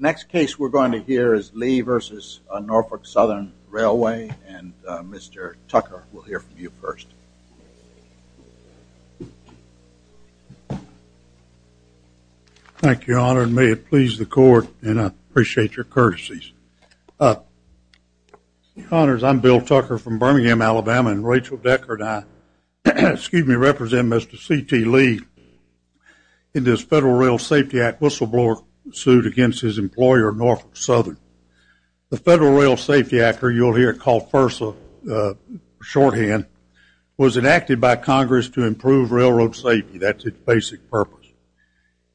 Next case we're going to hear is Lee v. Norfolk Southern Railway and Mr. Tucker will hear from you first. Thank you, Your Honor, and may it please the court and I appreciate your courtesies. Your Honors, I'm Bill Tucker from Birmingham, Alabama and Rachel Deckard. Excuse me, I represent Mr. C.T. Lee in this Federal Rail Safety Act whistleblower suit against his employer, Norfolk Southern. The Federal Rail Safety Act, or you'll hear it called FERSA, shorthand, was enacted by Congress to improve railroad safety. That's its basic purpose.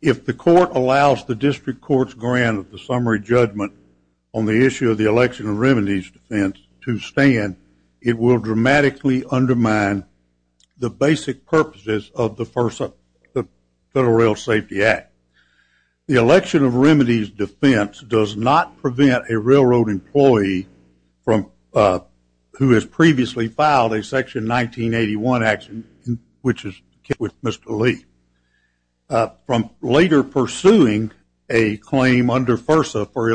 If the court allows the district court's grant of the summary judgment on the issue of the election and remedies defense to stand, it will dramatically undermine the basic purposes of the FERSA, the Federal Rail Safety Act. The election of remedies defense does not prevent a railroad employee from, who has previously filed a section 1981 action, which is with Mr. Lee, from later pursuing a claim under FERSA for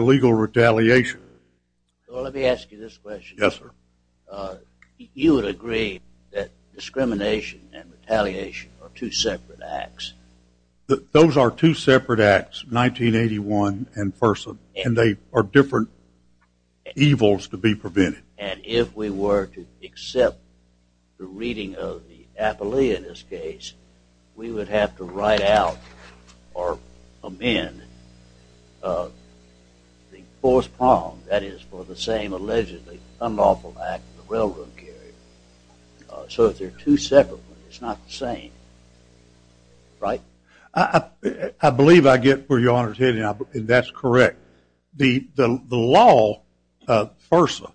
discrimination and retaliation are two separate acts. Those are two separate acts, 1981 and FERSA, and they are different evils to be prevented. And if we were to accept the reading of the appellee in this case, we would have to write out or amend the fourth prong, that is, for the same allegedly unlawful act the railroad carrier. So if they're two separate ones, it's not the same. Right? I believe I get where your Honor is heading, and that's correct. The law, FERSA,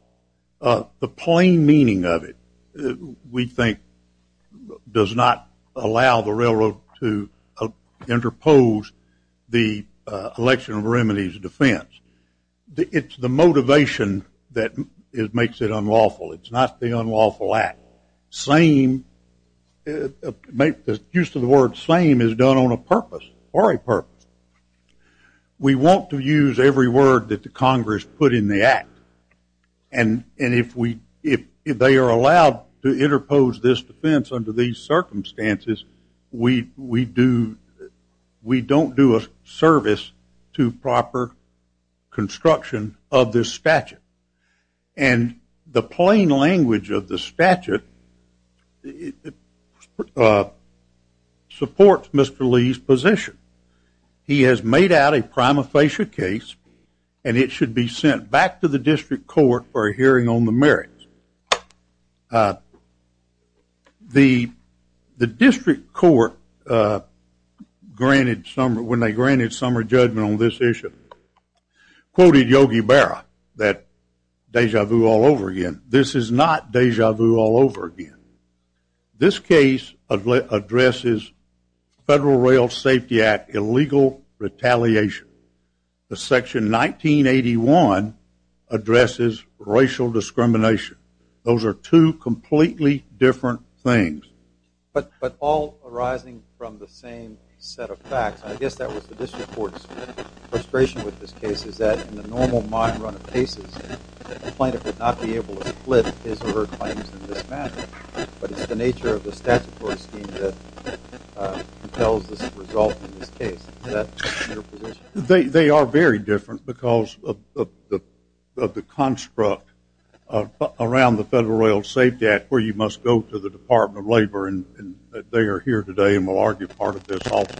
the plain meaning of it, we think, does not allow the railroad to interpose the election of remedies defense. It's the motivation that makes it unlawful. It's not the unlawful act. Same, the use of the word same is done on a purpose, or a purpose. We want to use every word that the Congress put in the act, and if they are allowed to we don't do a service to proper construction of this statute. And the plain language of the statute supports Mr. Lee's position. He has made out a prima facie case, and it should be sent back to the district court for a hearing on the merits. The district court granted some, when they granted some judgment on this issue, quoted Yogi Berra, that deja vu all over again. This is not deja vu all over again. This case addresses Federal Rail Safety Act illegal retaliation. The section 1981 addresses racial discrimination. Those are two completely different things. But all arising from the same set of facts, I guess that was the district court's frustration with this case, is that in the normal mind run of cases, the plaintiff would not be able to split his or her claims in this manner. But it's the nature of the statutory scheme that compels the result in this case. Is that your position? They are very different because of the construct around the Federal Rail Safety Act where you must go to the Department of Labor, and they are here today and will argue part of this also.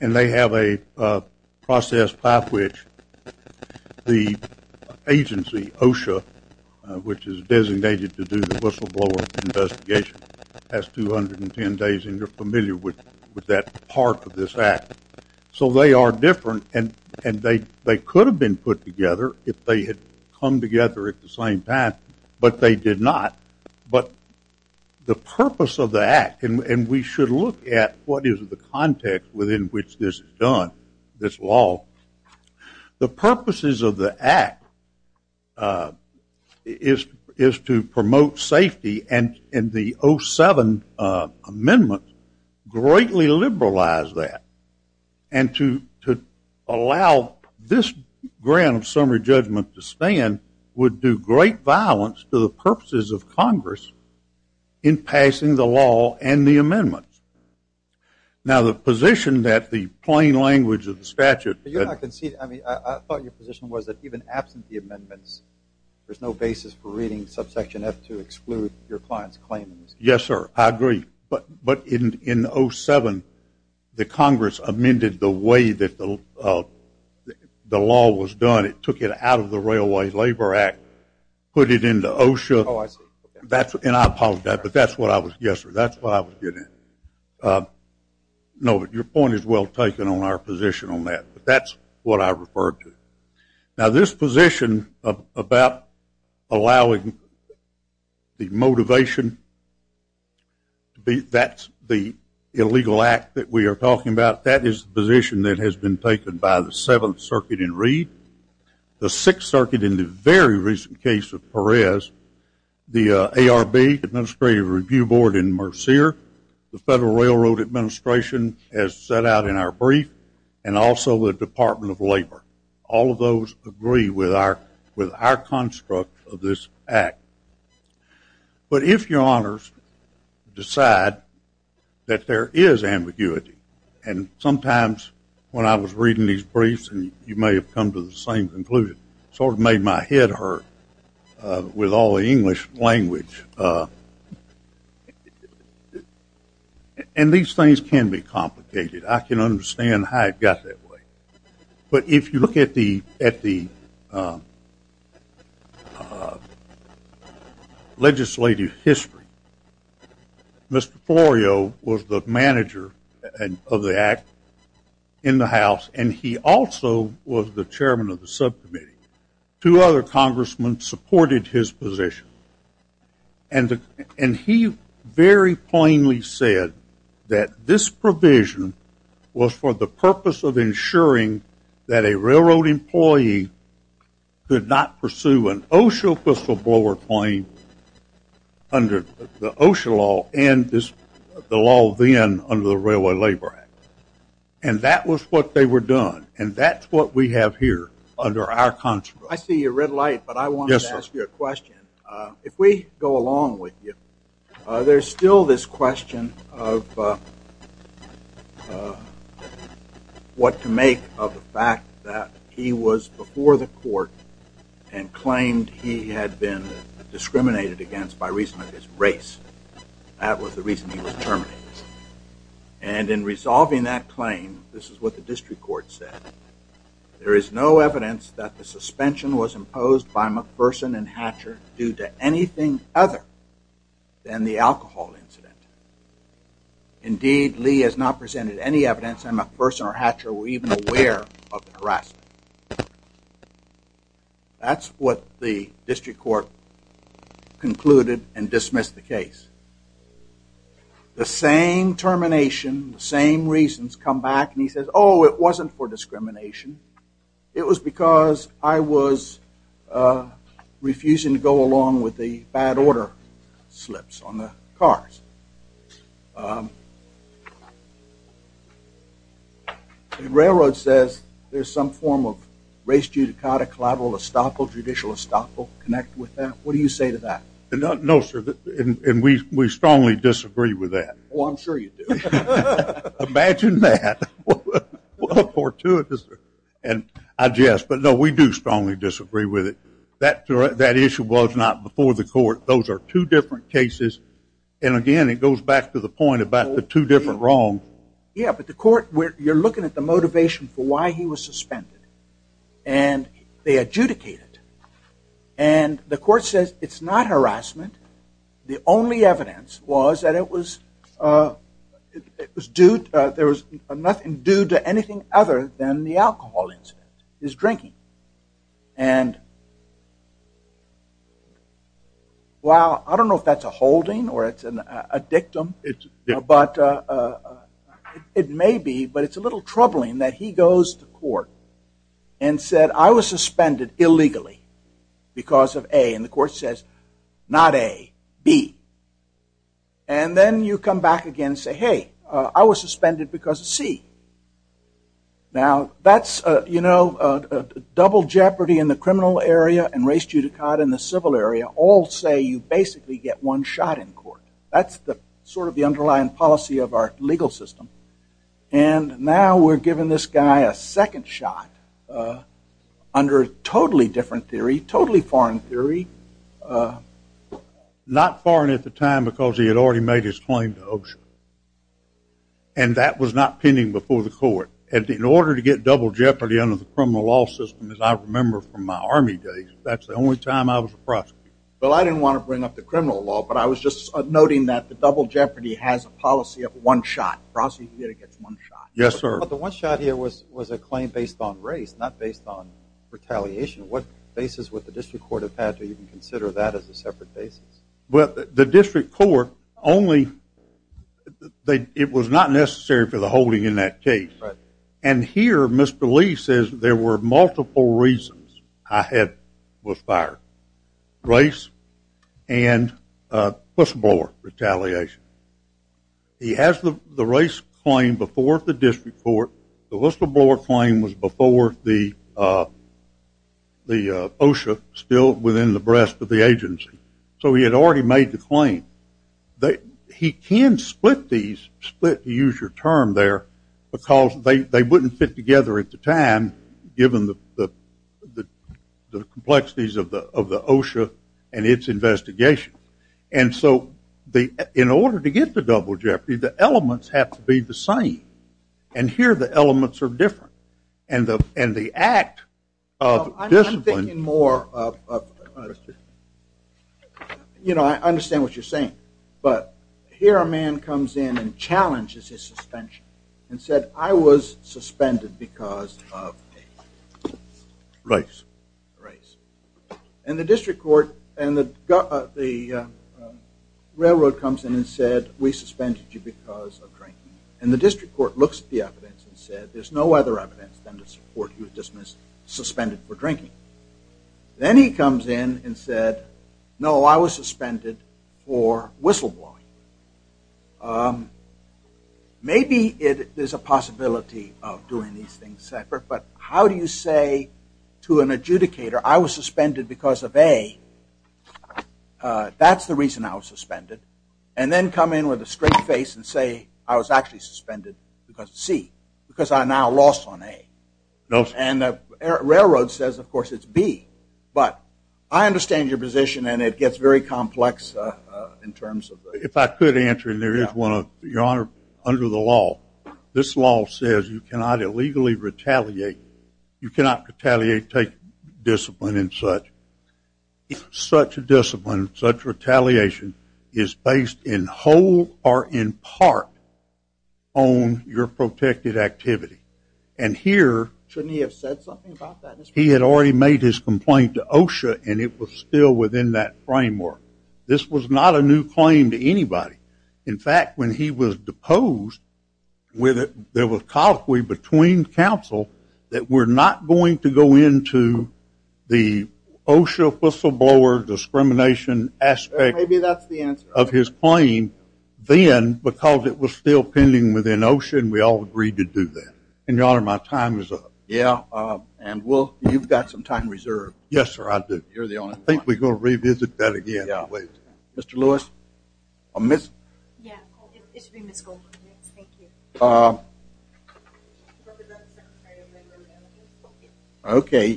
And they have a process by which the agency, OSHA, which is designated to do the investigation, has 210 days and you're familiar with that part of this act. So they are different and they could have been put together if they had come together at the same time, but they did not. But the purpose of the act, and we should look at what is the context within which this is done, this law, the purposes of the act is to promote safety and the 07 amendment greatly liberalized that. And to allow this grant of summary judgment to stand would do great violence to the purposes of Congress in passing the law and the amendments. Now the position that the plain language of the statute... I thought your position was that even absent the amendments, there's no basis for reading subsection F to exclude your client's claims. Yes, sir. I agree. But in 07, the Congress amended the way that the law was done. It took it out of the Railway Labor Act, put it into OSHA, and I apologize, but that's what I was getting at. No, but your point is well taken on our position on that, but that's what I referred to. Now this position about allowing the motivation, that's the illegal act that we are talking about, that is the position that has been taken by the 7th Circuit in Reed, the 6th Circuit in the very recent case of Perez, the ARB, the Administrative Review Board in Mercier, the Federal Railroad Administration has set out in our brief and also the Department of Labor. All of those agree with our construct of this act. But if your honors decide that there is ambiguity, and sometimes when I was reading these briefs and you may have come to the same conclusion, sort of made my head hurt with all the English language, and these things can be complicated. I can understand how it got that way. But if you look at the legislative history, Mr. Florio was the manager of the act in the House and he also was the chairman of the subcommittee. Two other congressmen supported his position. And he very plainly said that this provision was for the purpose of ensuring that a railroad employee could not pursue an OSHA whistleblower claim under the OSHA law and the law then under the Railway Labor Act. And that was what they were doing. And that's what we have here under our contract. I see your red light, but I wanted to ask you a question. If we go along with you, there's still this question of what to make of the fact that he was before the court and claimed he had been discriminated against by reason of his race. That was the reason he was terminated. And in resolving that claim, this is what the district court said, there is no evidence that the suspension was imposed by McPherson and Hatcher due to anything other than the alcohol incident. Indeed, Lee has not presented any evidence that McPherson or Hatcher were even aware of the harassment. That's what the district court concluded and dismissed the case. The same termination, the same reasons come back and he says, oh, it wasn't for discrimination. It was because I was refusing to go along with the bad order slips on the cars. The railroad says there's some form of race judicata collateral estoppel, what do you say to that? We strongly disagree with that. We do strongly disagree with it. That issue was not before the court. Those are two different cases and again it goes back to the point about the two different wrongs. You're looking at the motivation for why he was suspended. And they adjudicate it. And the court says it's not harassment. The only evidence was that it was due to there was nothing due to anything other than the alcohol incident, his drinking. And while I don't know if that's a holding or a dictum, but it may be, but it's a little troubling that he goes to court and said I was suspended illegally because of A. And the court says not A, B. And then you come back again and say, hey, I was suspended because of C. Now that's, you know, double jeopardy in the criminal area and race judicata in the civil area all say you basically get one shot in court. That's the sort of the underlying policy of our legal system. And now we're giving this guy a second shot under totally different theory, totally foreign theory. Not foreign at the time because he had already made his claim to Oshkosh. And that was not pending before the court. In order to get double jeopardy under the criminal law system as I remember from my army days, that's the only time I was a prosecutor. Well, I didn't want to bring up the criminal law, but I was just noting that the double jeopardy has a policy of one shot. Prosecutor gets one shot. Yes, sir. But the one shot here was a claim based on race, not based on retaliation. What basis would the district court have had to even consider that as a separate basis? Well, the district court only, it was not necessary for the holding in that case. Right. And here Mr. Lee says there were multiple reasons I was fired. Race and whistleblower retaliation. He has the race claim before the district court. The whistleblower claim was before the OSHA still within the breast of the agency. So he had already made the fit together at the time, given the complexities of the OSHA and its investigation. And so in order to get the double jeopardy, the elements have to be the same. And here the elements are different. And the act of discipline. I'm thinking more of, you know, I understand what you're saying. But here a man comes in and challenges his suspension and said, I was suspended because of race. And the district court and the railroad comes in and said, we suspended you because of drinking. And the district court looks at the evidence and said, there's no other evidence than to support you were dismissed, suspended for drinking. Then he comes in and said, no, I was suspended for whistleblowing. Maybe there's a possibility of doing these things separate. But how do you say to an adjudicator, I was suspended because of A. That's the reason I was suspended. And then come in with a straight face and say, I was actually suspended because of C. Because I now lost on A. And the railroad says, of course, it's B. But I understand your position and it gets very complex in terms of. If I could answer, and there is one, your honor, under the law, this law says you cannot illegally retaliate. You cannot retaliate, take discipline and such. Such a discipline, such retaliation is based in whole or in part on your protected activity. And here. Shouldn't he have said something about that? He had already made his complaint to OSHA and it was still within that framework. This was not a new claim to anybody. In fact, when he was deposed, there was colloquy between counsel that we're not going to go into the OSHA whistleblower discrimination aspect of his claim then because it was still pending within OSHA and we all agreed to do that. And your honor, my time is up. Yeah, and you've got some time reserved. Yes, sir, I do. You're the only one. I think we're going to revisit that again. Mr. Lewis. Okay.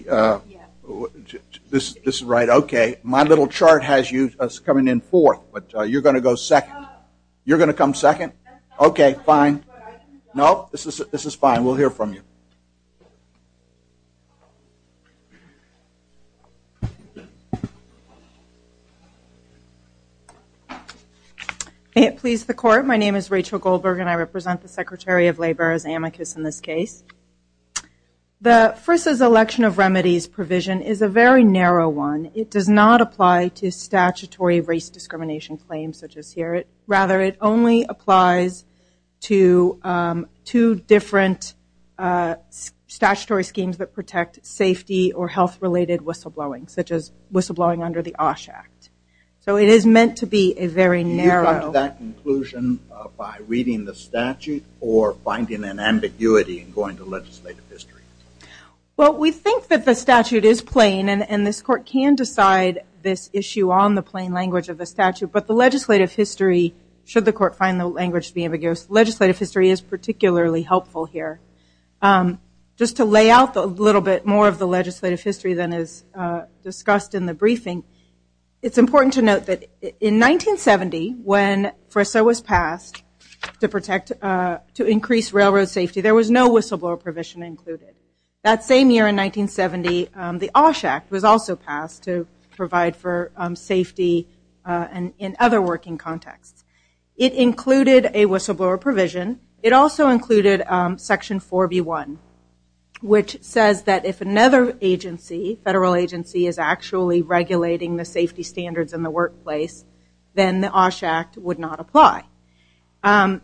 This is right. Okay. My little chart has you coming in fourth, but you're going to go second. You're going to come second. Okay, fine. No, this is fine. We'll hear from you. Thank you. May it please the court. My name is Rachel Goldberg and I represent the Secretary of Labor as amicus in this case. The first is election of remedies provision is a very narrow one. It does not apply to statutory race discrimination claims such as here. Rather, it only applies to two different statutory schemes that protect safety or health-related whistleblowing such as whistleblowing under the OSHA Act. So it is meant to be a very narrow. Do you come to that conclusion by reading the statute or finding an ambiguity in going to legislative history? Well, we think that the statute is plain and this court can decide this issue on the plain language of the statute. But the legislative history, should the court find the language to be ambiguous, legislative history is particularly helpful here. Just to lay out a little bit more of the legislative history than is discussed in the briefing, it's important to note that in 1970 when FRSA was passed to protect, to increase railroad safety, there was no whistleblower provision included. That same year in 1970, the OSHA Act was also passed to provide for safety in other working contexts. It included a whistleblower provision. It also included section 4B1, which says that if another agency, federal agency, is actually regulating the safety standards in the workplace, then the OSHA Act would not apply. And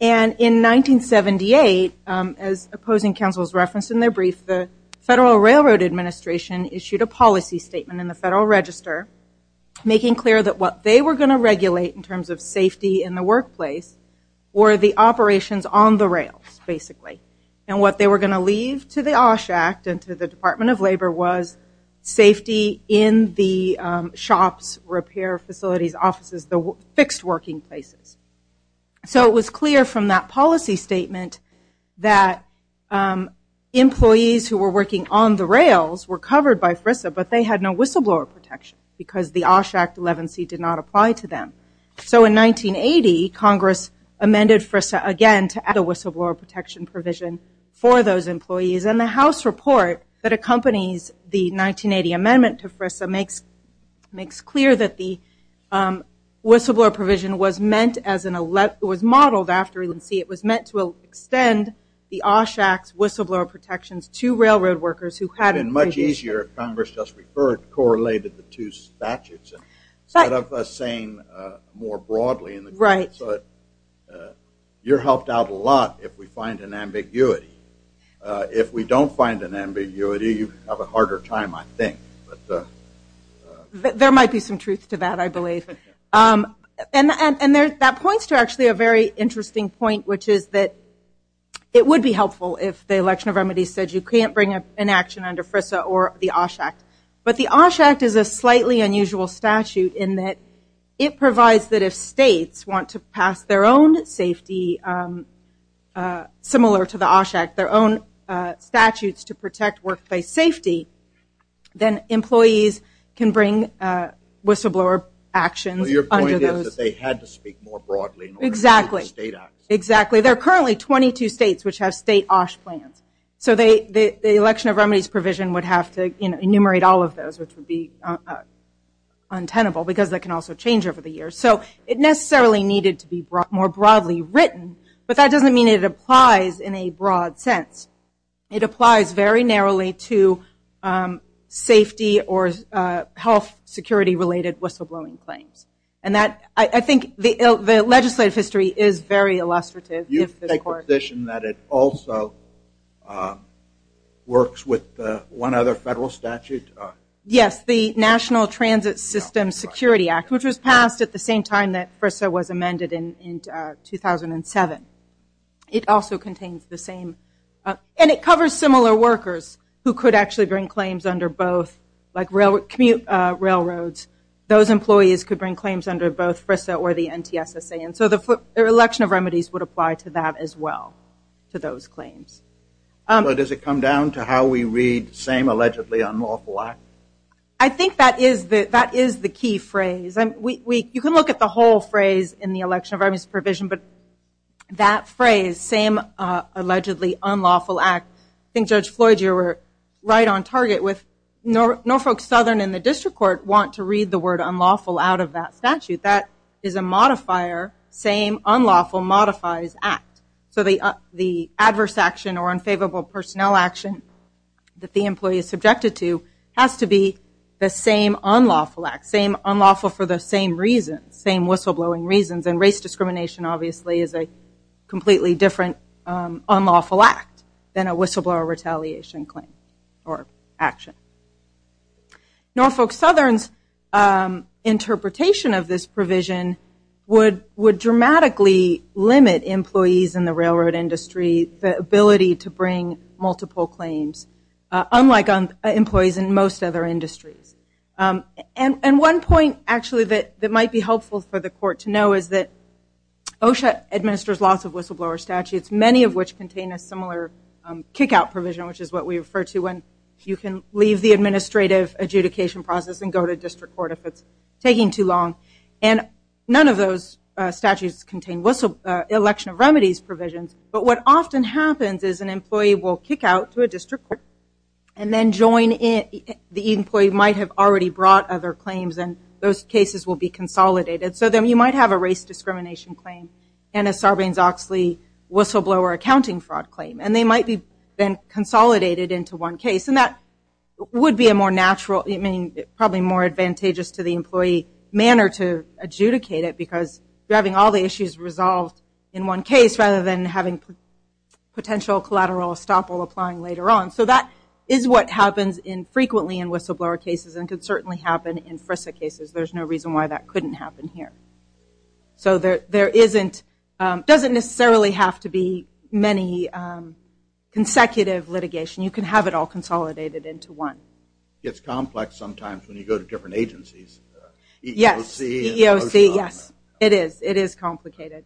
in 1978, as opposing counsels referenced in their brief, the Federal Railroad Administration issued a policy statement in the Federal Register making clear that what they were going to regulate in terms of safety in the workplace were the operations on the rails, basically. And what they were going to leave to the OSHA Act and to the Department of Labor was safety in the shops, repair facilities, offices, the fixed working places. So it was clear from that policy statement that employees who were working on the rails were covered by FRSA, but they had no whistleblower protection because the OSHA Act 11C did not apply to them. So in 1980, Congress amended FRSA again to add a whistleblower protection provision for FRSA. It makes clear that the whistleblower provision was modeled after 11C. It was meant to extend the OSHA Act's whistleblower protections to railroad workers who had a provision. It would have been much easier if Congress just correlated the two statutes instead of us saying more broadly. You're helped out a lot if we find an ambiguity. If we don't find an ambiguity, you have a harder time, I think. But there might be some truth to that, I believe. And that points to actually a very interesting point, which is that it would be helpful if the election of remedies said you can't bring an action under FRSA or the OSHA Act. But the OSHA Act is a slightly unusual statute in that it provides that if states want to pass their own safety similar to the OSHA Act, their own statutes to protect workplace safety, then employees can bring whistleblower actions under those. Well, your point is that they had to speak more broadly in order to get the state action. Exactly. There are currently 22 states which have state OSHA plans. So the election of remedies provision would have to enumerate all of those, which would be untenable because that can also change over the years. So it necessarily needed to be more broadly written. But that doesn't mean it applies in a broad sense. It applies very narrowly to safety or health security-related whistleblowing claims. And I think the legislative history is very illustrative. You take the position that it also works with one other federal statute? Yes, the National Transit System Security Act, which was passed at the same time that FRSA was amended in 2007. It also contains the same. And it covers similar workers who could actually bring claims under both, like commute railroads. Those employees could bring claims under both FRSA or the NTSSA. And so the election of remedies would apply to that as well, to those claims. So does it come down to how we read the same allegedly unlawful act? I think that is the key phrase. You can look at the whole phrase in the election of remedies provision. But that phrase, same allegedly unlawful act, I think Judge Floyd, you were right on target with Norfolk Southern and the district court want to read the word unlawful out of that statute. That is a modifier, same unlawful modifies act. So the adverse action or unfavorable personnel action that the employee is subjected to has to be the same unlawful act, same unlawful for the same reason, same whistleblowing reasons. And race discrimination obviously is a completely different unlawful act than a whistleblower retaliation claim or action. Norfolk Southern's interpretation of this provision would dramatically limit employees in the railroad industry the ability to bring multiple claims, unlike employees in most other industries. And one point actually that might be helpful for the court to know is that OSHA administers lots of whistleblower statutes, many of which contain a similar kickout provision, which is what we refer to when you can leave the administrative adjudication process and go to district court if it is taking too long. And none of those statutes contain election of remedies provisions. But what often happens is an employee will kick out to a district court and then join the employee might have already brought other claims and those cases will be consolidated. So then you might have a race discrimination claim and a Sarbanes-Oxley whistleblower accounting fraud claim. And they might be consolidated into one case. And that would be a more natural, I mean, probably more advantageous to the employee manner to adjudicate it because you're having all the issues resolved in one case rather than having potential collateral estoppel applying later on. So that is what happens in frequently in whistleblower cases and could certainly happen in FRISA cases. There's no reason why that couldn't happen here. So there isn't, doesn't necessarily have to be many consecutive litigation. You can have it all consolidated into one. It's complex sometimes when you go to different agencies. Yes, EEOC, yes. It is. It is complicated.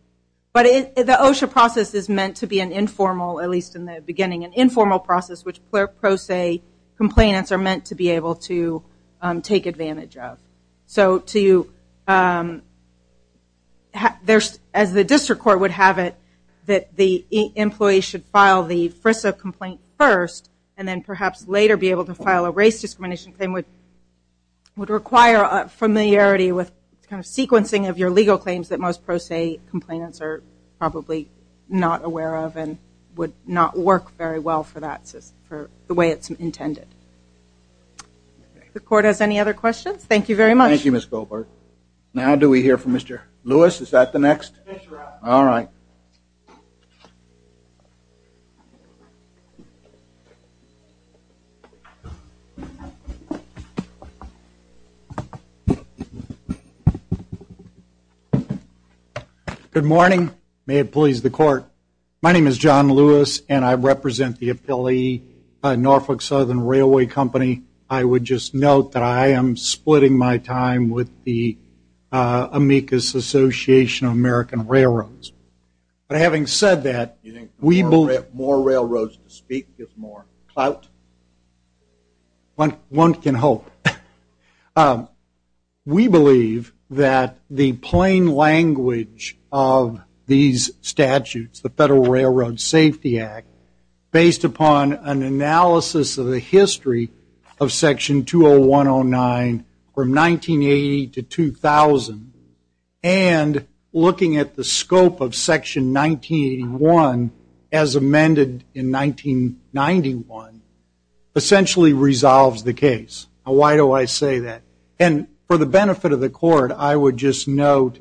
But the OSHA process is meant to be an informal, at least in the beginning, an informal process which pro se complainants are meant to be able to take advantage of. So to, as the district court would have it, that the employee should file the FRISA complaint first and then perhaps later be able to file a race discrimination claim would require a familiarity with kind of sequencing of your legal claims that most pro se complainants are probably not aware of and would not work very well for that system, for the way it's intended. If the court has any other questions, thank you very much. Thank you, Ms. Goldberg. Now do we hear from Mr. Lewis? Is that the next? All right. Thank you. Good morning. May it please the court. My name is John Lewis and I represent the affiliate Norfolk Southern Railway Company. I would just note that I am splitting my time with the Amicus Association of American Railroads. But having said that, we believe that the plain language of these statutes, the Federal Railroad Safety Act, based upon an analysis of the history of Section 20109 from 1980 to 2000, and looking at the scope of Section 1981 as amended in 1991, essentially resolves the case. Why do I say that? And for the benefit of the court, I would just note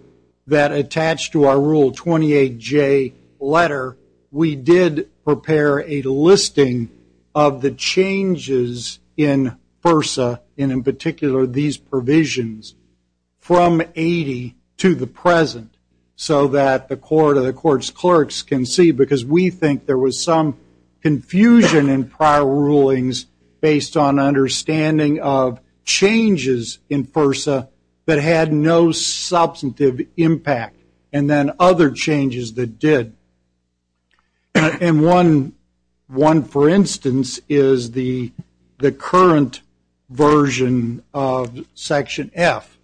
that attached to our Rule 28J letter, we did prepare a listing of the changes in FERSA, and in particular these provisions, from 1980 to the present, so that the court or the court's clerks can see. Because we think there was some confusion in prior rulings based on understanding of changes in FERSA that had no substantive impact, and then other changes that did. And one, for instance, is the current version of Section F,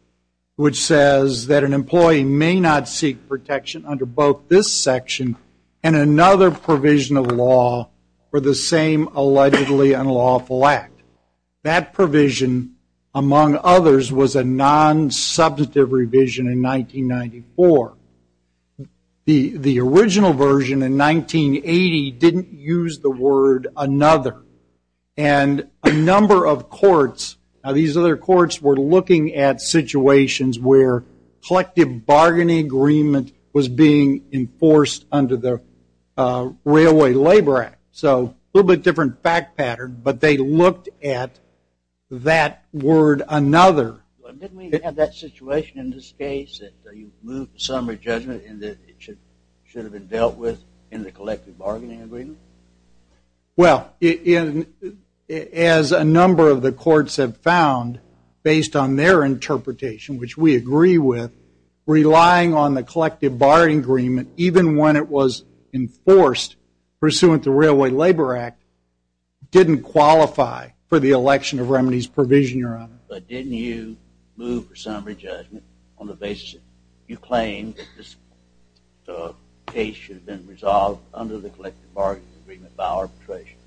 which says that an employee may not seek protection under both this section and another provision of law for the same allegedly unlawful act. That provision, among others, was a non-substantive revision in 1994. The original version in 1980 didn't use the word another. And a number of courts, now these other courts were looking at situations where collective bargaining agreement was being enforced under the Railway Labor Act. So a little bit different fact pattern, but they looked at that word another. Didn't we have that situation in this case that you moved to summary judgment and that it should have been dealt with in the collective bargaining agreement? Well, as a number of the courts have found, based on their interpretation, which we agree with, relying on the collective bargaining agreement, even when it was enforced pursuant to Railway Labor Act, didn't qualify for the election of remedies provision, Your Honor. But didn't you move for summary judgment on the basis that you claimed that this case should have been resolved under the collective bargaining agreement by arbitration?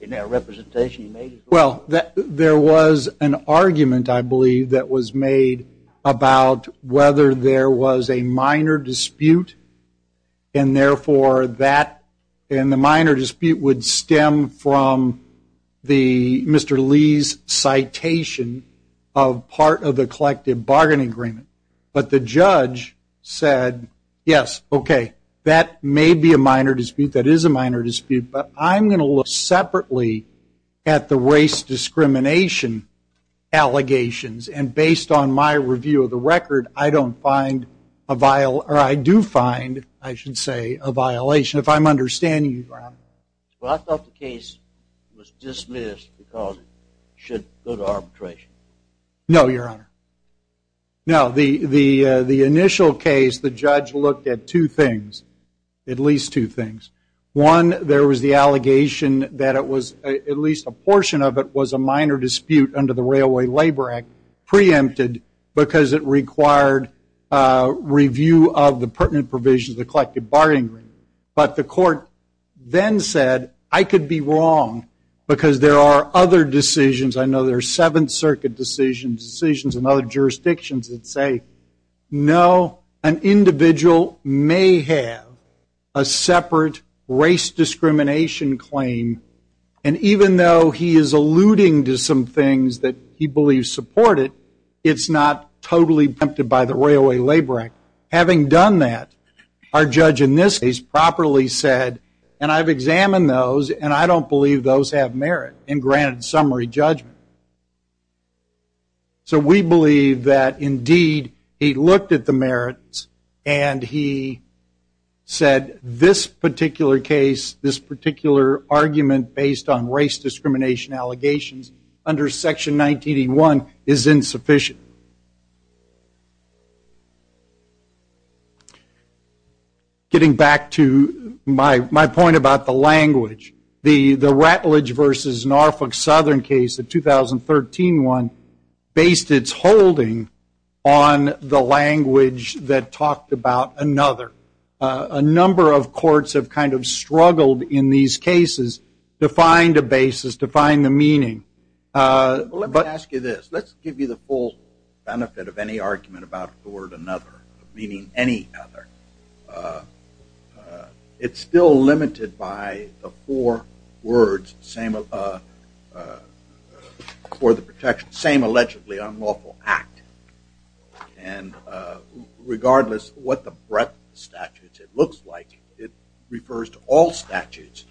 In that representation, you made it clear. Well, there was an argument, I believe, that was made about whether there was a minor dispute. And therefore, that and the minor dispute would stem from Mr. Lee's citation of part of the collective bargaining agreement. But the judge said, yes, OK, that may be a minor dispute. That is a minor dispute. But I'm going to look separately at the race discrimination allegations. And based on my review of the record, I do find, I should say, a violation. If I'm understanding you, Your Honor. Well, I thought the case was dismissed because it should go to arbitration. No, Your Honor. Now, the initial case, the judge looked at two things, at least two things. One, there was the allegation that at least a portion of it was a minor dispute under Railway Labor Act preempted because it required review of the pertinent provisions of the collective bargaining agreement. But the court then said, I could be wrong because there are other decisions. I know there are Seventh Circuit decisions and other jurisdictions that say, no, an individual may have a separate race discrimination claim. And even though he is alluding to some things that he believes support it, it's not totally preempted by the Railway Labor Act. Having done that, our judge in this case properly said, and I've examined those, and I don't believe those have merit and granted summary judgment. So we believe that, indeed, he looked at the merits and he said, this particular case, this judgment based on race discrimination allegations under Section 1981 is insufficient. Getting back to my point about the language, the Rattledge versus Norfolk Southern case, the 2013 one, based its holding on the language that talked about another. A number of courts have kind of struggled in these cases to find a basis, to find the meaning. Let me ask you this. Let's give you the full benefit of any argument about the word another, meaning any other. It's still limited by the four words for the protection, same allegedly unlawful act. And regardless what the breadth of statutes it looks like, it refers to all statutes,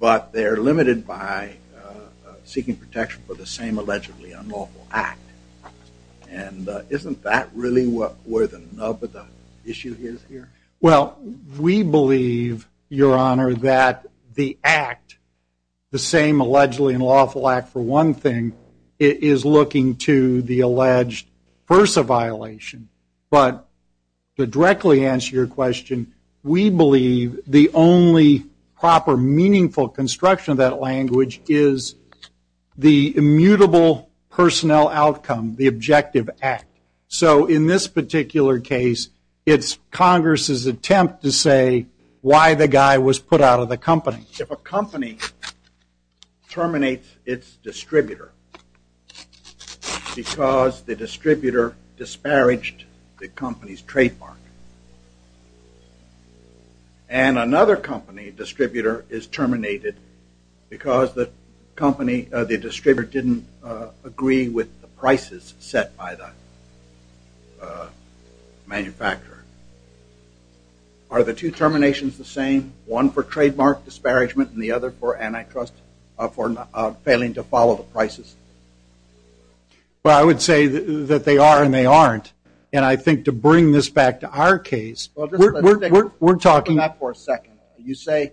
but they are limited by seeking protection for the same allegedly unlawful act. And isn't that really where the issue is here? Well, we believe, Your Honor, that the act, the same allegedly unlawful act for one thing is looking to the alleged FERSA violation. But to directly answer your question, we believe the only proper meaningful construction of that language is the immutable personnel outcome, the objective act. So in this particular case, it's Congress's attempt to say why the guy was put out of the company. If a company terminates its distributor because the distributor disparaged the company's trademark, and another company distributor is terminated because the distributor didn't agree with the prices set by the manufacturer, are the two terminations the same? One for trademark disparagement and the other for antitrust, for failing to follow the prices? Well, I would say that they are and they aren't. And I think to bring this back to our case, we're talking about for a second, you say,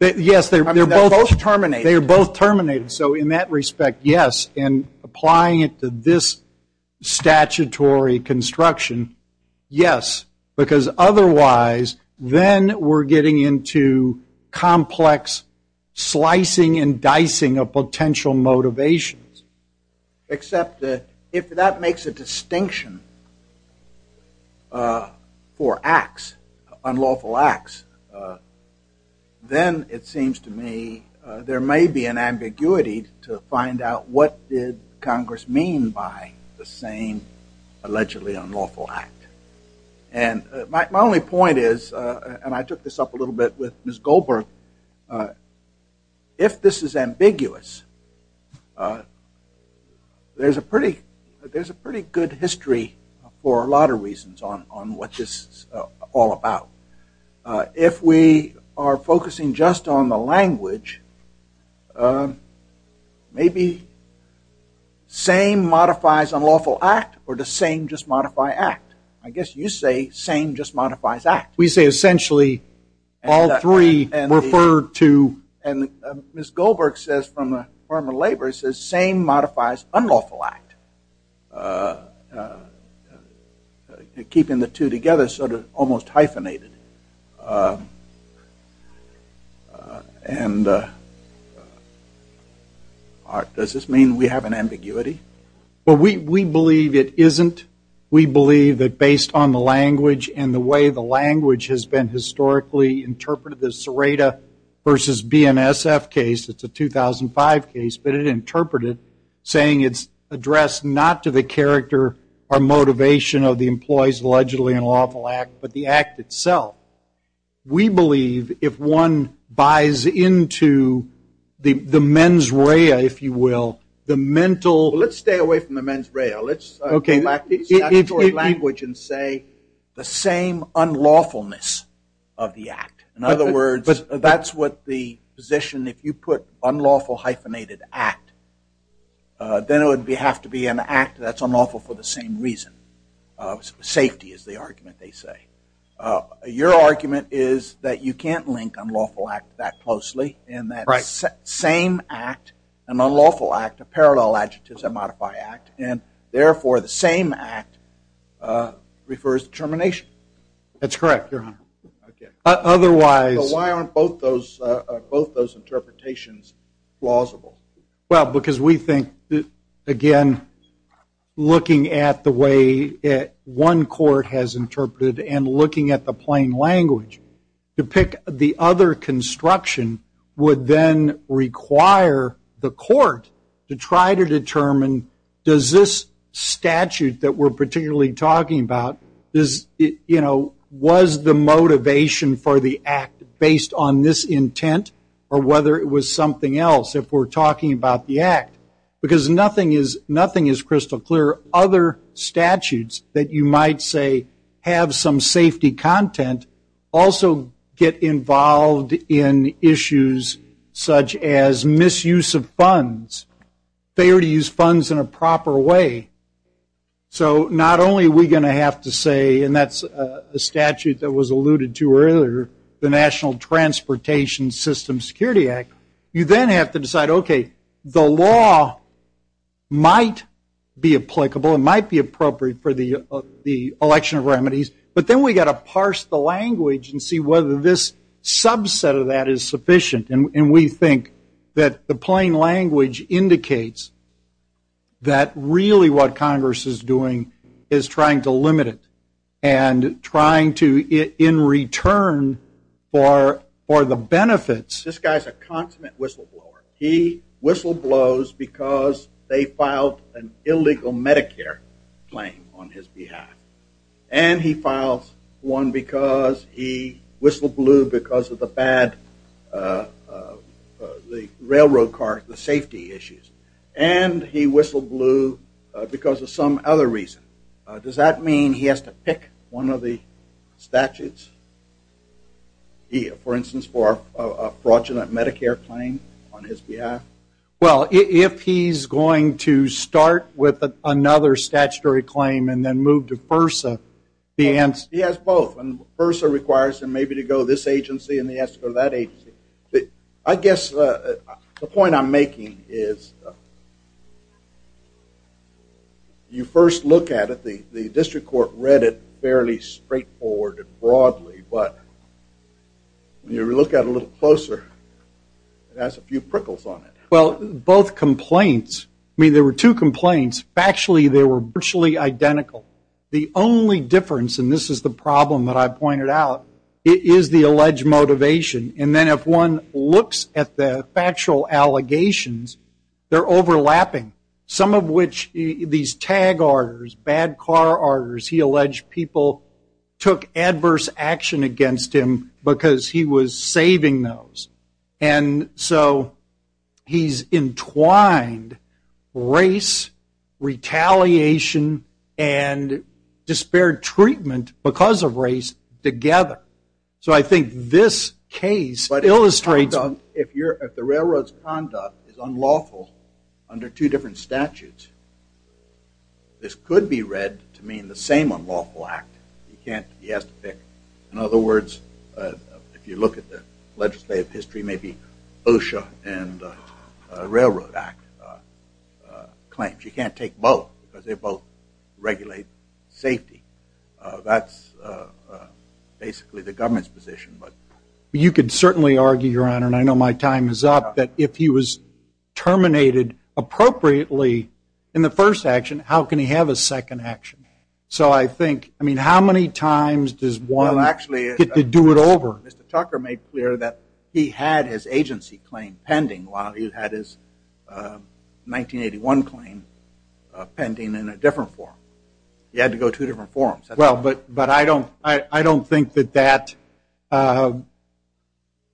yes, they're both terminated. They're both terminated. So in that respect, yes. And applying it to this statutory construction, yes. Because otherwise, then we're getting into complex slicing and dicing of potential motivations. Except if that makes a distinction for acts, unlawful acts, then it seems to me there may be an ambiguity to find out what did Congress mean by the same allegedly unlawful act. And my only point is, and I took this up a little bit with Ms. Goldberg, if this is ambiguous, there's a pretty good history for a lot of reasons on what this is all about. If we are focusing just on the language, maybe same modifies unlawful act or does same just I guess you say same just modifies act. We say essentially all three refer to and Ms. Goldberg says from a former laborer says same modifies unlawful act. Keeping the two together sort of almost hyphenated. And does this mean we have an ambiguity? Well, we believe it isn't. We believe that based on the language and the way the language has been historically interpreted, the Serrata versus BNSF case, it's a 2005 case, but it interpreted saying it's addressed not to the character or motivation of the employees allegedly unlawful act, but the act itself. We believe if one buys into the mens rea, if you will, the mental. Let's stay away from the mens rea. Let's go back to the language and say the same unlawfulness of the act. In other words, that's what the position if you put unlawful hyphenated act, then it would have to be an act that's unlawful for the same reason. Safety is the argument they say. Your argument is that you can't link unlawful act that closely and that same act, an unlawful act, a parallel adjectives that modify act, and therefore, the same act refers to termination. That's correct, Your Honor. Otherwise. Why aren't both those interpretations plausible? Well, because we think, again, looking at the way one court has interpreted and looking at the plain language, to pick the other construction would then require the court to try to determine, does this statute that we're particularly talking about, was the motivation for the act based on this intent or whether it was something else if we're talking about the act? Because nothing is crystal clear. Other statutes that you might say have some safety content also get involved in issues such as misuse of funds. Failure to use funds in a proper way. So not only are we going to have to say, and that's a statute that was alluded to earlier, the National Transportation System Security Act. You then have to decide, OK, the law might be applicable. It might be appropriate for the election of remedies. But then we've got to parse the language and see whether this subset of that is sufficient. And we think that the plain language indicates that really what Congress is doing is trying to limit it and trying to, in return for the benefits. This guy's a consummate whistleblower. He whistleblows because they filed an illegal Medicare claim on his behalf. And he files one because he whistleblew because of the bad railroad car, the safety issues. And he whistleblew because of some other reason. Does that mean he has to pick one of the statutes? He, for instance, for a fraudulent Medicare claim on his behalf? Well, if he's going to start with another statutory claim and then move to FERSA, the answer- He has both. And FERSA requires him maybe to go this agency and he has to go to that agency. I guess the point I'm making is you first look at it, the district court read it fairly straightforward and broadly. But when you look at it a little closer, it has a few prickles on it. Well, both complaints- I mean, there were two complaints. Factually, they were virtually identical. The only difference, and this is the problem that I pointed out, is the alleged motivation. And then if one looks at the factual allegations, they're overlapping. Some of which, these tag orders, bad car orders, he alleged people took adverse action against him because he was saving those. And so he's entwined race, retaliation, and despaired treatment because of race together. So I think this case illustrates- If the railroad's conduct is unlawful under two different statutes, this could be read to mean the same unlawful act. You can't- he has to pick. In other words, if you look at the legislative history, maybe OSHA and Railroad Act claims. You can't take both because they both regulate safety. That's basically the government's position. You could certainly argue, Your Honor, and I know my time is up, that if he was terminated appropriately in the first action, how can he have a second action? So I think- I mean, how many times does one get to do it over? Mr. Tucker made clear that he had his agency claim pending while he had his 1981 claim pending in a different form. He had to go two different forms. Well, but I don't think that that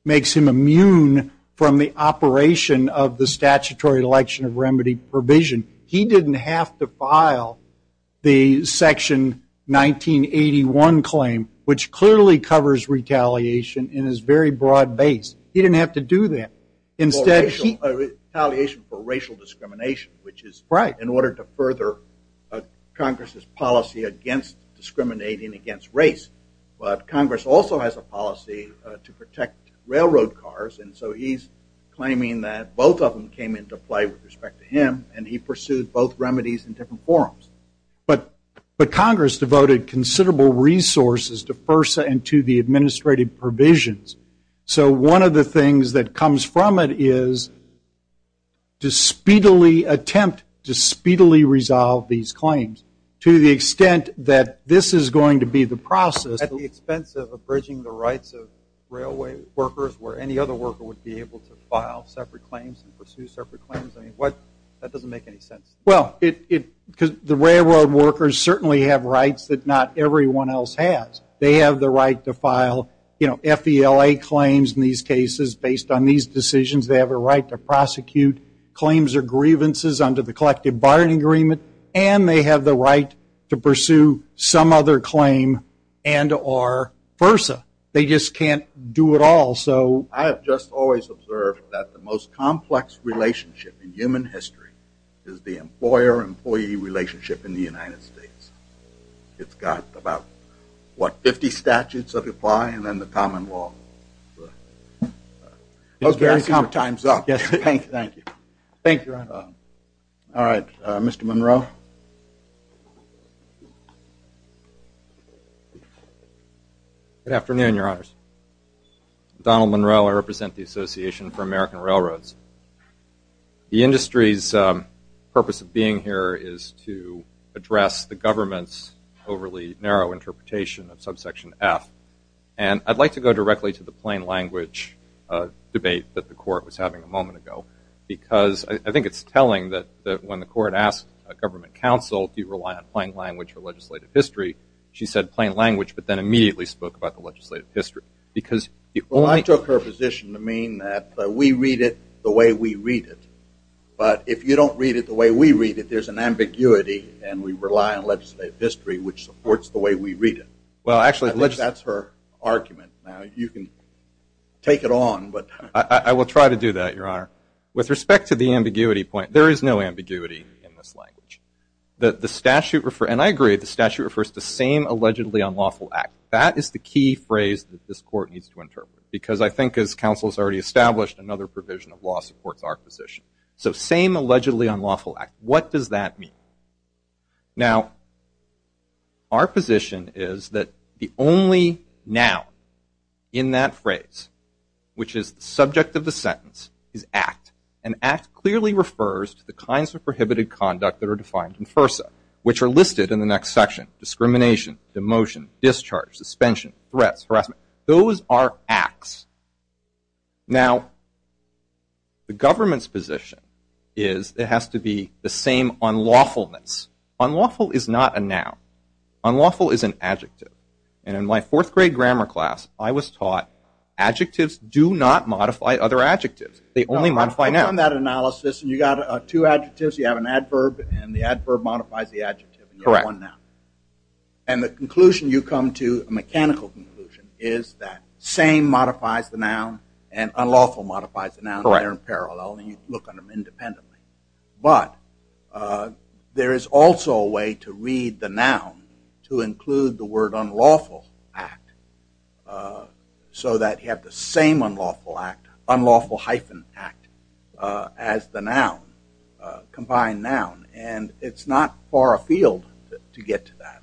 makes him immune from the operation of the statutory election of remedy provision. He didn't have to file the section 1981 claim, which clearly covers retaliation in his very broad base. He didn't have to do that. Instead, he- Or retaliation for racial discrimination, which is- Right. In order to further Congress's policy against discriminating against race. But Congress also has a policy to protect railroad cars, and so he's claiming that both of them came into play with respect to him, and he pursued both remedies in different forms. But Congress devoted considerable resources to FERSA and to the administrative provisions. So one of the things that comes from it is to speedily attempt to speedily resolve these claims. To the extent that this is going to be the process- At the expense of abridging the rights of railway workers where any other worker would be able to file separate claims and pursue separate claims. I mean, what- that doesn't make any sense. Well, it- because the railroad workers certainly have rights that not everyone else has. They have the right to file, you know, FELA claims in these cases based on these decisions. They have a right to prosecute claims or grievances under the collective bargaining agreement, and they have the right to pursue some other claim and or FERSA. They just can't do it all, so- I have just always observed that the most complex relationship in human history is the employer-employee relationship in the United States. It's got about, what, 50 statutes that apply and then the common law. Those very- Our time's up. Yes, thank you. Thank you, Your Honor. All right, Mr. Monroe. Good afternoon, Your Honors. Donald Monroe. I represent the Association for American Railroads. The industry's purpose of being here is to address the government's overly narrow interpretation of subsection F, and I'd like to go directly to the plain language debate that the Court was having a moment ago, because I think it's telling that when the Court asked a government counsel, do you rely on plain language for legislative history? She said plain language, but then immediately spoke about the legislative history, because- I took her position to mean that we read it the way we read it, but if you don't read it the way we read it, there's an ambiguity, and we rely on legislative history, which supports the way we read it. Well, actually- I think that's her argument. Now, you can take it on, but- I will try to do that, Your Honor. With respect to the ambiguity point, there is no ambiguity in this language. The statute- and I agree, the statute refers to the same allegedly unlawful act. That is the key phrase that this Court needs to interpret, because I think, as counsel has already established, another provision of law supports our position. So, same allegedly unlawful act. What does that mean? Now, our position is that the only noun in that phrase, which is the subject of the sentence, is act, and act clearly refers to the kinds of prohibited conduct that are defined in threats, harassment. Those are acts. Now, the government's position is it has to be the same unlawfulness. Unlawful is not a noun. Unlawful is an adjective, and in my fourth grade grammar class, I was taught adjectives do not modify other adjectives. They only modify nouns. On that analysis, you got two adjectives, you have an adverb, and the adverb modifies the adjective, and you have one noun. Correct. And the conclusion you come to, a mechanical conclusion, is that same modifies the noun, and unlawful modifies the noun. Correct. They're in parallel, and you can look at them independently. But there is also a way to read the noun to include the word unlawful act, so that you have the same unlawful act, unlawful hyphen act, as the noun, combined noun, and it's not far afield to get to that.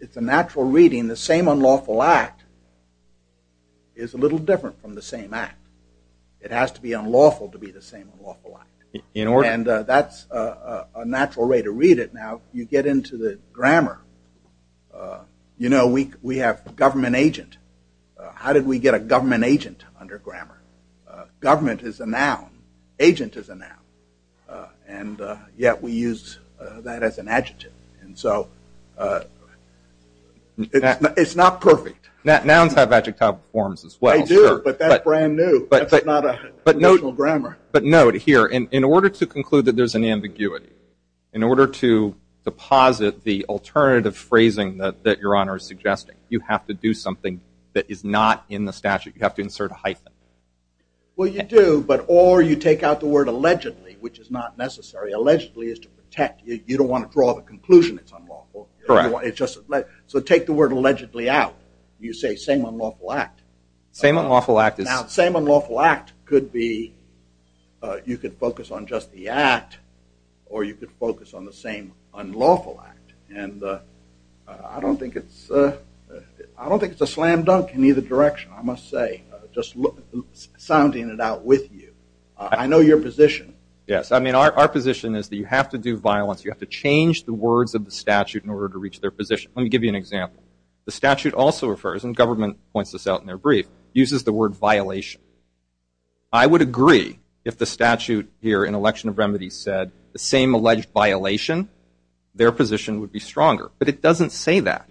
It's a natural reading. The same unlawful act is a little different from the same act. It has to be unlawful to be the same unlawful act, and that's a natural way to read it. Now, you get into the grammar. You know, we have government agent. How did we get a government agent under grammar? Government is a noun. Agent is a noun, and yet we use that as an adjective. And so it's not perfect. Nouns have adjectival forms as well. They do, but that's brand new. That's not a traditional grammar. But note here, in order to conclude that there's an ambiguity, in order to deposit the alternative phrasing that your honor is suggesting, you have to do something that is not in the statute. You have to insert a hyphen. Well, you do, but or you take out the word allegedly, which is not necessary. Allegedly is to protect. You don't want to draw the conclusion it's unlawful. So take the word allegedly out. You say same unlawful act. Same unlawful act is. Now, same unlawful act could be, you could focus on just the act, or you could focus on the same unlawful act. And I don't think it's a slam dunk in either direction, I must say. Just sounding it out with you. I know your position. Yes, I mean, our position is that you have to do violence. You have to change the words of the statute in order to reach their position. Let me give you an example. The statute also refers, and government points this out in their brief, uses the word violation. I would agree if the statute here in election of remedies said the same alleged violation, their position would be stronger. But it doesn't say that.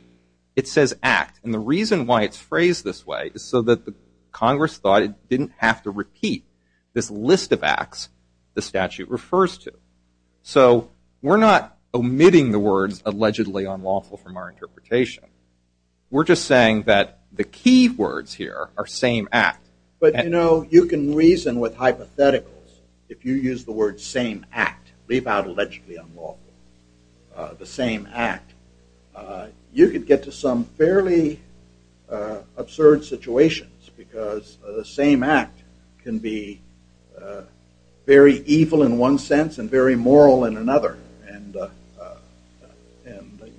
It says act. And the reason why it's phrased this way is so that the Congress thought it didn't have to repeat this list of acts the statute refers to. So we're not omitting the words allegedly unlawful from our interpretation. We're just saying that the key words here are same act. But you know, you can reason with hypotheticals if you use the word same act. Leave out allegedly unlawful. The same act. You could get to some fairly absurd situations because the same act can be very evil in one sense and very moral in another. And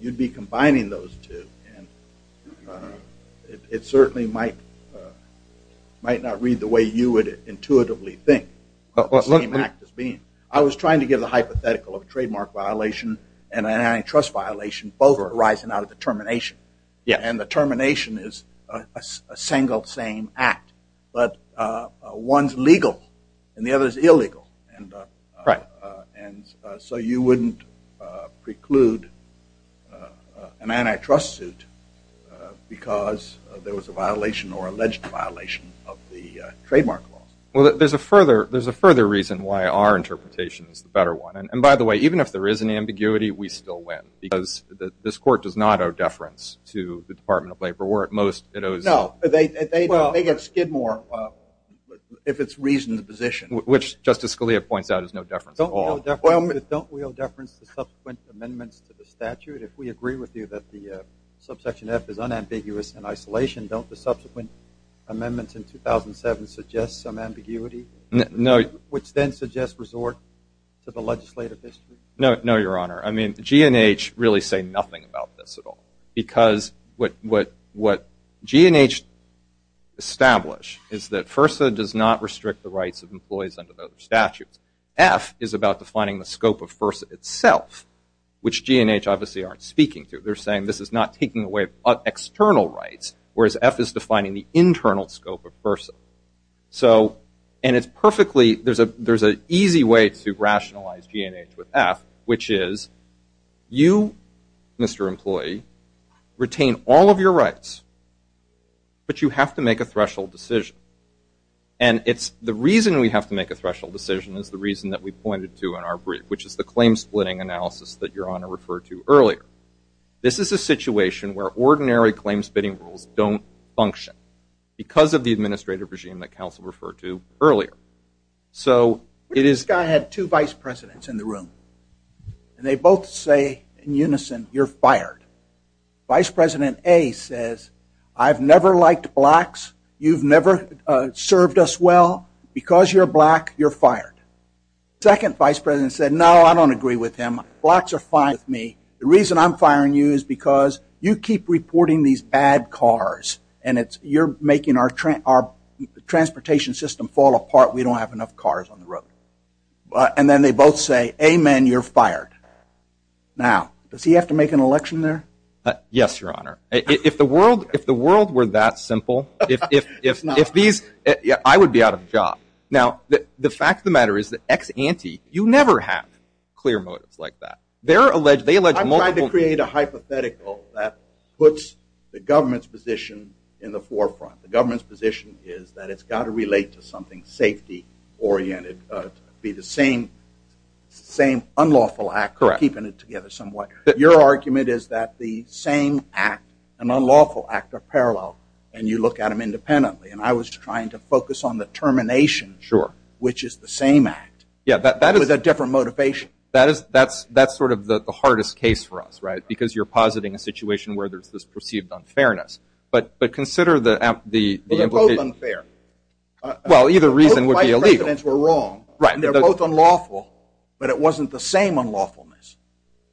you'd be combining those two. And it certainly might not read the way you would intuitively think of the same act as being. I was trying to give the hypothetical of a trademark violation and an antitrust violation. Both are arising out of the termination. Yeah. And the termination is a single same act. But one's legal and the other is illegal. And so you wouldn't preclude an antitrust suit because there was a violation or alleged violation of the trademark laws. Well, there's a further reason why our interpretation is the better one. And by the way, even if there is an ambiguity, we still win. Because this court does not owe deference to the Department of Labor, where at most it owes. No, they get skid more if it's reasoned position. Which Justice Scalia points out is no deference at all. Don't we owe deference to subsequent amendments to the statute? If we agree with you that the subsection F is unambiguous in isolation, don't the No. Which then suggests resort to the legislative district? No, Your Honor. I mean, G&H really say nothing about this at all. Because what G&H establish is that FERSA does not restrict the rights of employees under those statutes. F is about defining the scope of FERSA itself, which G&H obviously aren't speaking to. They're saying this is not taking away external rights, whereas F is defining the internal scope of FERSA. So, and it's perfectly, there's an easy way to rationalize G&H with F, which is you, Mr. Employee, retain all of your rights, but you have to make a threshold decision. And it's the reason we have to make a threshold decision is the reason that we pointed to in our brief, which is the claim splitting analysis that Your Honor referred to earlier. This is a situation where ordinary claim splitting rules don't function. Because of the administrative regime that counsel referred to earlier. So, it is. This guy had two vice presidents in the room. And they both say in unison, you're fired. Vice President A says, I've never liked blacks. You've never served us well. Because you're black, you're fired. Second vice president said, no, I don't agree with him. Blacks are fine with me. The reason I'm firing you is because you keep reporting these bad cars. And it's, you're making our transportation system fall apart. We don't have enough cars on the road. And then they both say, amen, you're fired. Now, does he have to make an election there? Yes, Your Honor. If the world were that simple, if these, I would be out of a job. Now, the fact of the matter is that ex-ante, you never have clear motives like that. They're alleged, they allege multiple- To create a hypothetical that puts the government's position in the forefront. The government's position is that it's got to relate to something safety oriented. Be the same unlawful act, keeping it together somewhat. Your argument is that the same act, an unlawful act, are parallel. And you look at them independently. And I was trying to focus on the termination, which is the same act. Yeah, that is- With a different motivation. That is, that's sort of the hardest case for us, right? Because you're positing a situation where there's this perceived unfairness. But consider the implication- Well, they're both unfair. Well, either reason would be illegal. Both vice presidents were wrong. Right. And they're both unlawful. But it wasn't the same unlawfulness.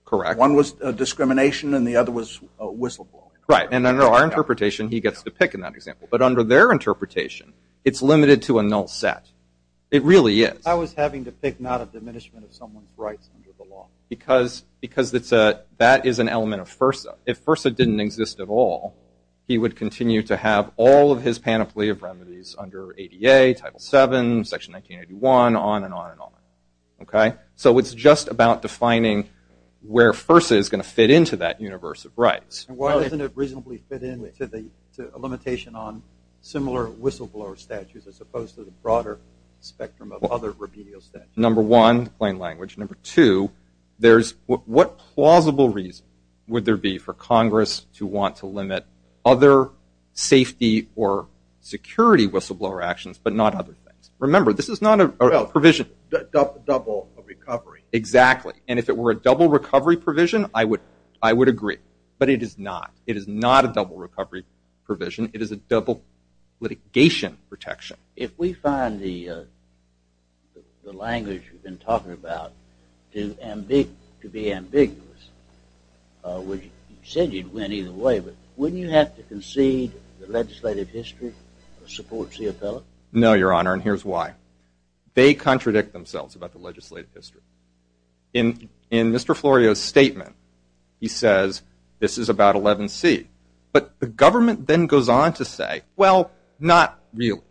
Correct. One was discrimination and the other was whistleblowing. Right. And under our interpretation, he gets to pick in that example. But under their interpretation, it's limited to a null set. It really is. I was having to pick not a diminishment of someone's rights under the law. Because that is an element of FIRSA. If FIRSA didn't exist at all, he would continue to have all of his panoply of remedies under ADA, Title VII, Section 1981, on and on and on. OK? So it's just about defining where FIRSA is going to fit into that universe of rights. And why doesn't it reasonably fit into a limitation on similar whistleblower statutes as opposed to the broader spectrum of other remedial statutes? Number one, plain language. Number two, what plausible reason would there be for Congress to want to limit other safety or security whistleblower actions but not other things? Remember, this is not a provision. Double recovery. Exactly. And if it were a double recovery provision, I would agree. But it is not. It is not a double recovery provision. It is a double litigation protection. If we find the language you've been talking about to be ambiguous, you said you'd win either way. But wouldn't you have to concede the legislative history supports the appellate? No, Your Honor. And here's why. They contradict themselves about the legislative history. In Mr. Florio's statement, he says, this is about 11C. But the government then goes on to say, well, not really.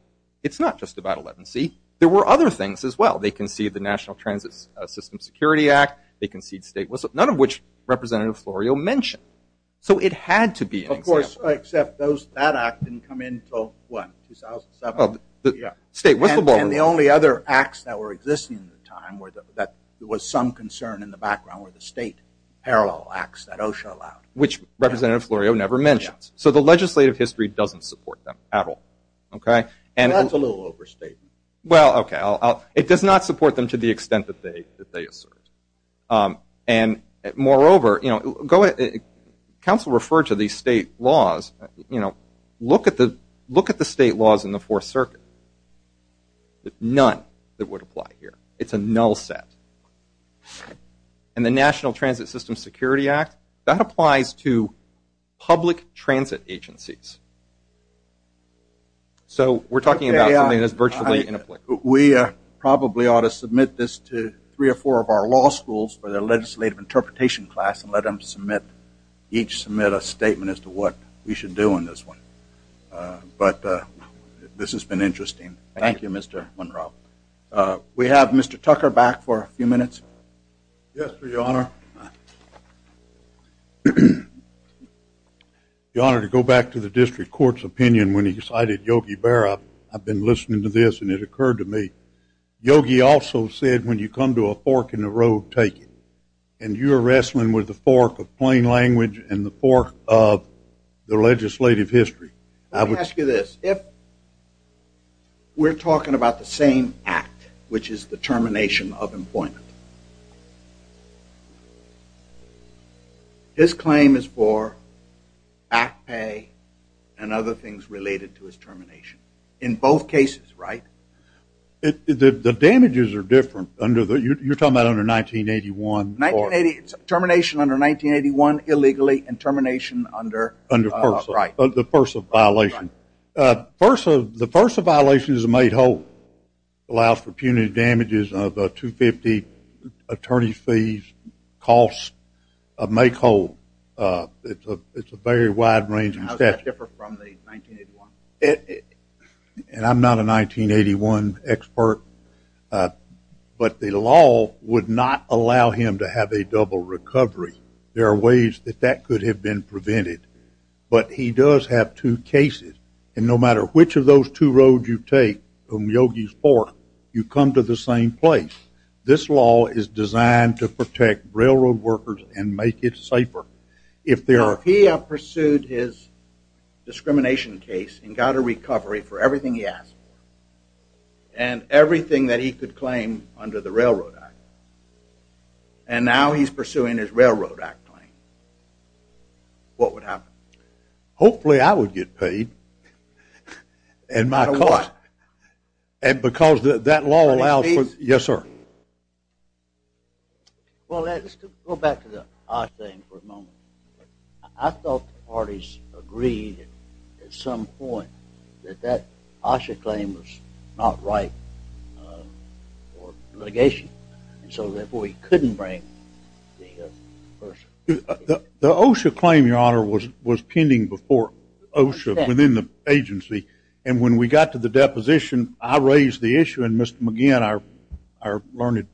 It's not just about 11C. There were other things as well. They concede the National Transit System Security Act. They concede state whistleblowers, none of which Representative Florio mentioned. So it had to be an example. Of course, except that act didn't come in until, what, 2007? Oh, the state whistleblower. And the only other acts that were existing at the time that there was some concern in the background were the state parallel acts that OSHA allowed. Which Representative Florio never mentions. So the legislative history doesn't support them at all. OK? And that's a little overstatement. Well, OK. It does not support them to the extent that they assert. And moreover, counsel referred to these state laws. Look at the state laws in the Fourth Circuit. None that would apply here. It's a null set. And the National Transit System Security Act, that applies to public transit agencies. So we're talking about something that's virtually inapplicable. We probably ought to submit this to three or four of our law schools for their legislative interpretation class and let them submit, each submit a statement as to what we should do in this one. But this has been interesting. Thank you, Mr. Monroe. We have Mr. Tucker back for a few minutes. Yes, Your Honor. Your Honor, to go back to the district court's opinion when he cited Yogi Berra, I've been listening to this and it occurred to me. Yogi also said, when you come to a fork in the road, take it. And you're wrestling with the fork of plain language and the fork of the legislative history. Let me ask you this. If we're talking about the same act, which is the termination of employment, his claim is for back pay and other things related to his termination. In both cases, right? The damages are different under the, you're talking about under 1981. 1980, termination under 1981 illegally and termination under. Under FERSA, the FERSA violation. The FERSA violation is a made whole. Allows for punitive damages of $250,000, attorney's fees, costs, a make whole. It's a very wide-ranging statute. How does that differ from the 1981? And I'm not a 1981 expert, but the law would not allow him to have a double recovery. There are ways that that could have been prevented. But he does have two cases. And no matter which of those two roads you take from Yogi's Fork, you come to the same place. This law is designed to protect railroad workers and make it safer. If he pursued his discrimination case and got a recovery for everything he asked for, and everything that he could claim under the Railroad Act, and now he's pursuing his Railroad Act claim, what would happen? Hopefully, I would get paid. And my cost. And because that law allows for... Yes, sir. Well, let's go back to the OSHA thing for a moment. I thought the parties agreed at some point that that OSHA claim was not right for litigation. And so therefore, he couldn't bring the FERSA. The OSHA claim, Your Honor, was pending before OSHA within the agency. And when we got to the deposition, I raised the issue. And Mr. McGinn, our learned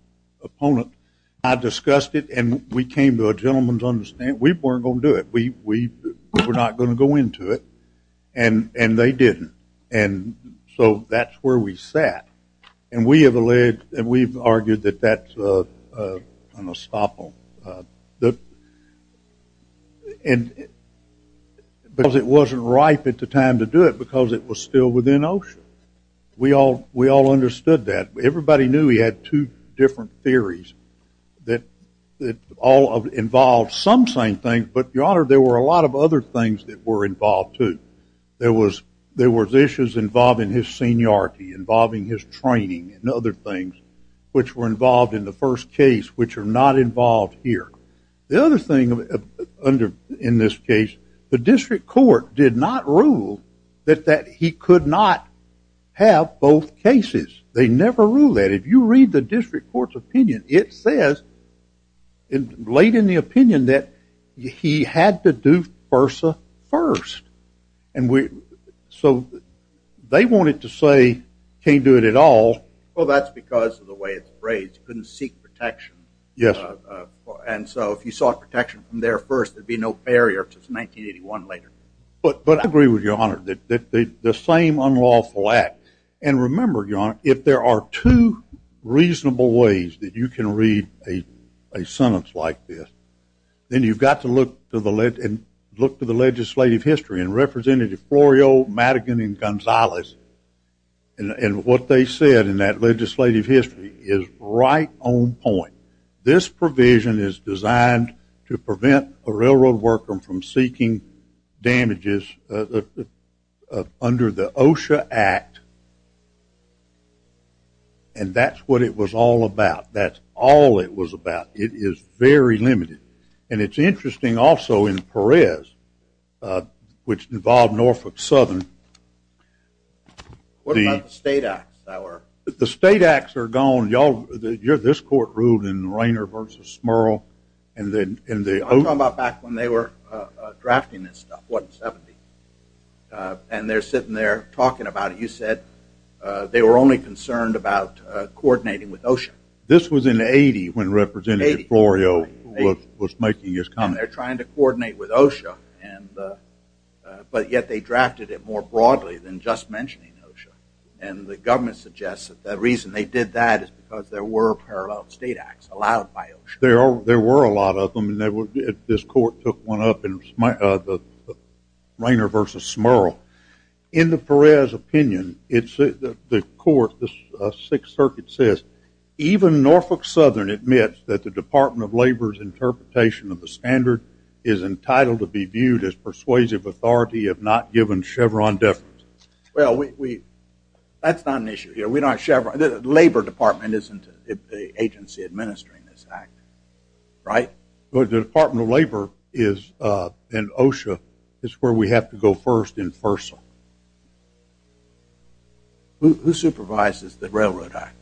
opponent, I discussed it. And we came to a gentleman's understanding. We weren't going to do it. We were not going to go into it. And they didn't. And so that's where we sat. And we have alleged and we've argued that that's an estoppel. And because it wasn't ripe at the time to do it because it was still within OSHA. We all understood that. Everybody knew he had two different theories that all involved some same thing. But Your Honor, there were a lot of other things that were involved too. There was issues involving his seniority, involving his training and other things which were involved in the first case which are not involved here. The other thing in this case, the district court did not rule that he could not have both cases. They never rule that. If you read the district court's opinion, it says, it laid in the opinion that he had to do FERSA first. And so they wanted to say, can't do it at all. Well, that's because of the way it's phrased. You couldn't seek protection. Yes. And so if you sought protection from there first, there'd be no barrier since 1981 later. But I agree with Your Honor that the same unlawful act. And remember, Your Honor, if there are two reasonable ways that you can read a sentence like this, then you've got to look to the legislative history. And Representative Florio, Madigan and Gonzalez, and what they said in that legislative history is right on point. This provision is designed to prevent a railroad worker from seeking damages under the OSHA Act. And that's what it was all about. That's all it was about. It is very limited. And it's interesting also in Perez, which involved Norfolk Southern. What about the state acts that were? The state acts are gone. Y'all, this court ruled in Rainer versus Smurl. And I'm talking about back when they were drafting this stuff, what, in 70. And they're sitting there talking about it. You said they were only concerned about coordinating with OSHA. This was in 80 when Representative Florio was making his comment. They're trying to coordinate with OSHA. But yet they drafted it more broadly than just mentioning OSHA. And the government suggests that the reason they did that is because there were parallel state acts allowed by OSHA. There were a lot of them. And this court took one up in Rainer versus Smurl. In the Perez opinion, the court, the Sixth Circuit says, even Norfolk Southern admits that the Department of Labor's interpretation of the standard is entitled to be viewed as persuasive authority if not given Chevron deference. Well, that's not an issue here. Labor Department isn't the agency administering this act. Right? But the Department of Labor is, and OSHA, is where we have to go first in FERSA. Who supervises the Railroad Act?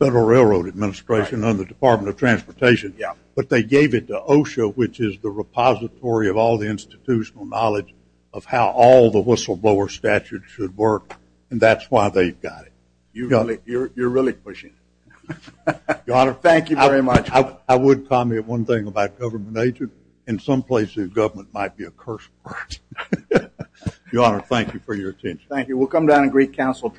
Federal Railroad Administration and the Department of Transportation. Yeah. But they gave it to OSHA, which is the repository of all the institutional knowledge of how all the whistleblower statutes should work. And that's why they've got it. You're really pushing it. Your Honor. Thank you very much. I would comment one thing about government agents. In some places, government might be a curse word. Your Honor, thank you for your attention. Thank you. We'll come down and greet counsel.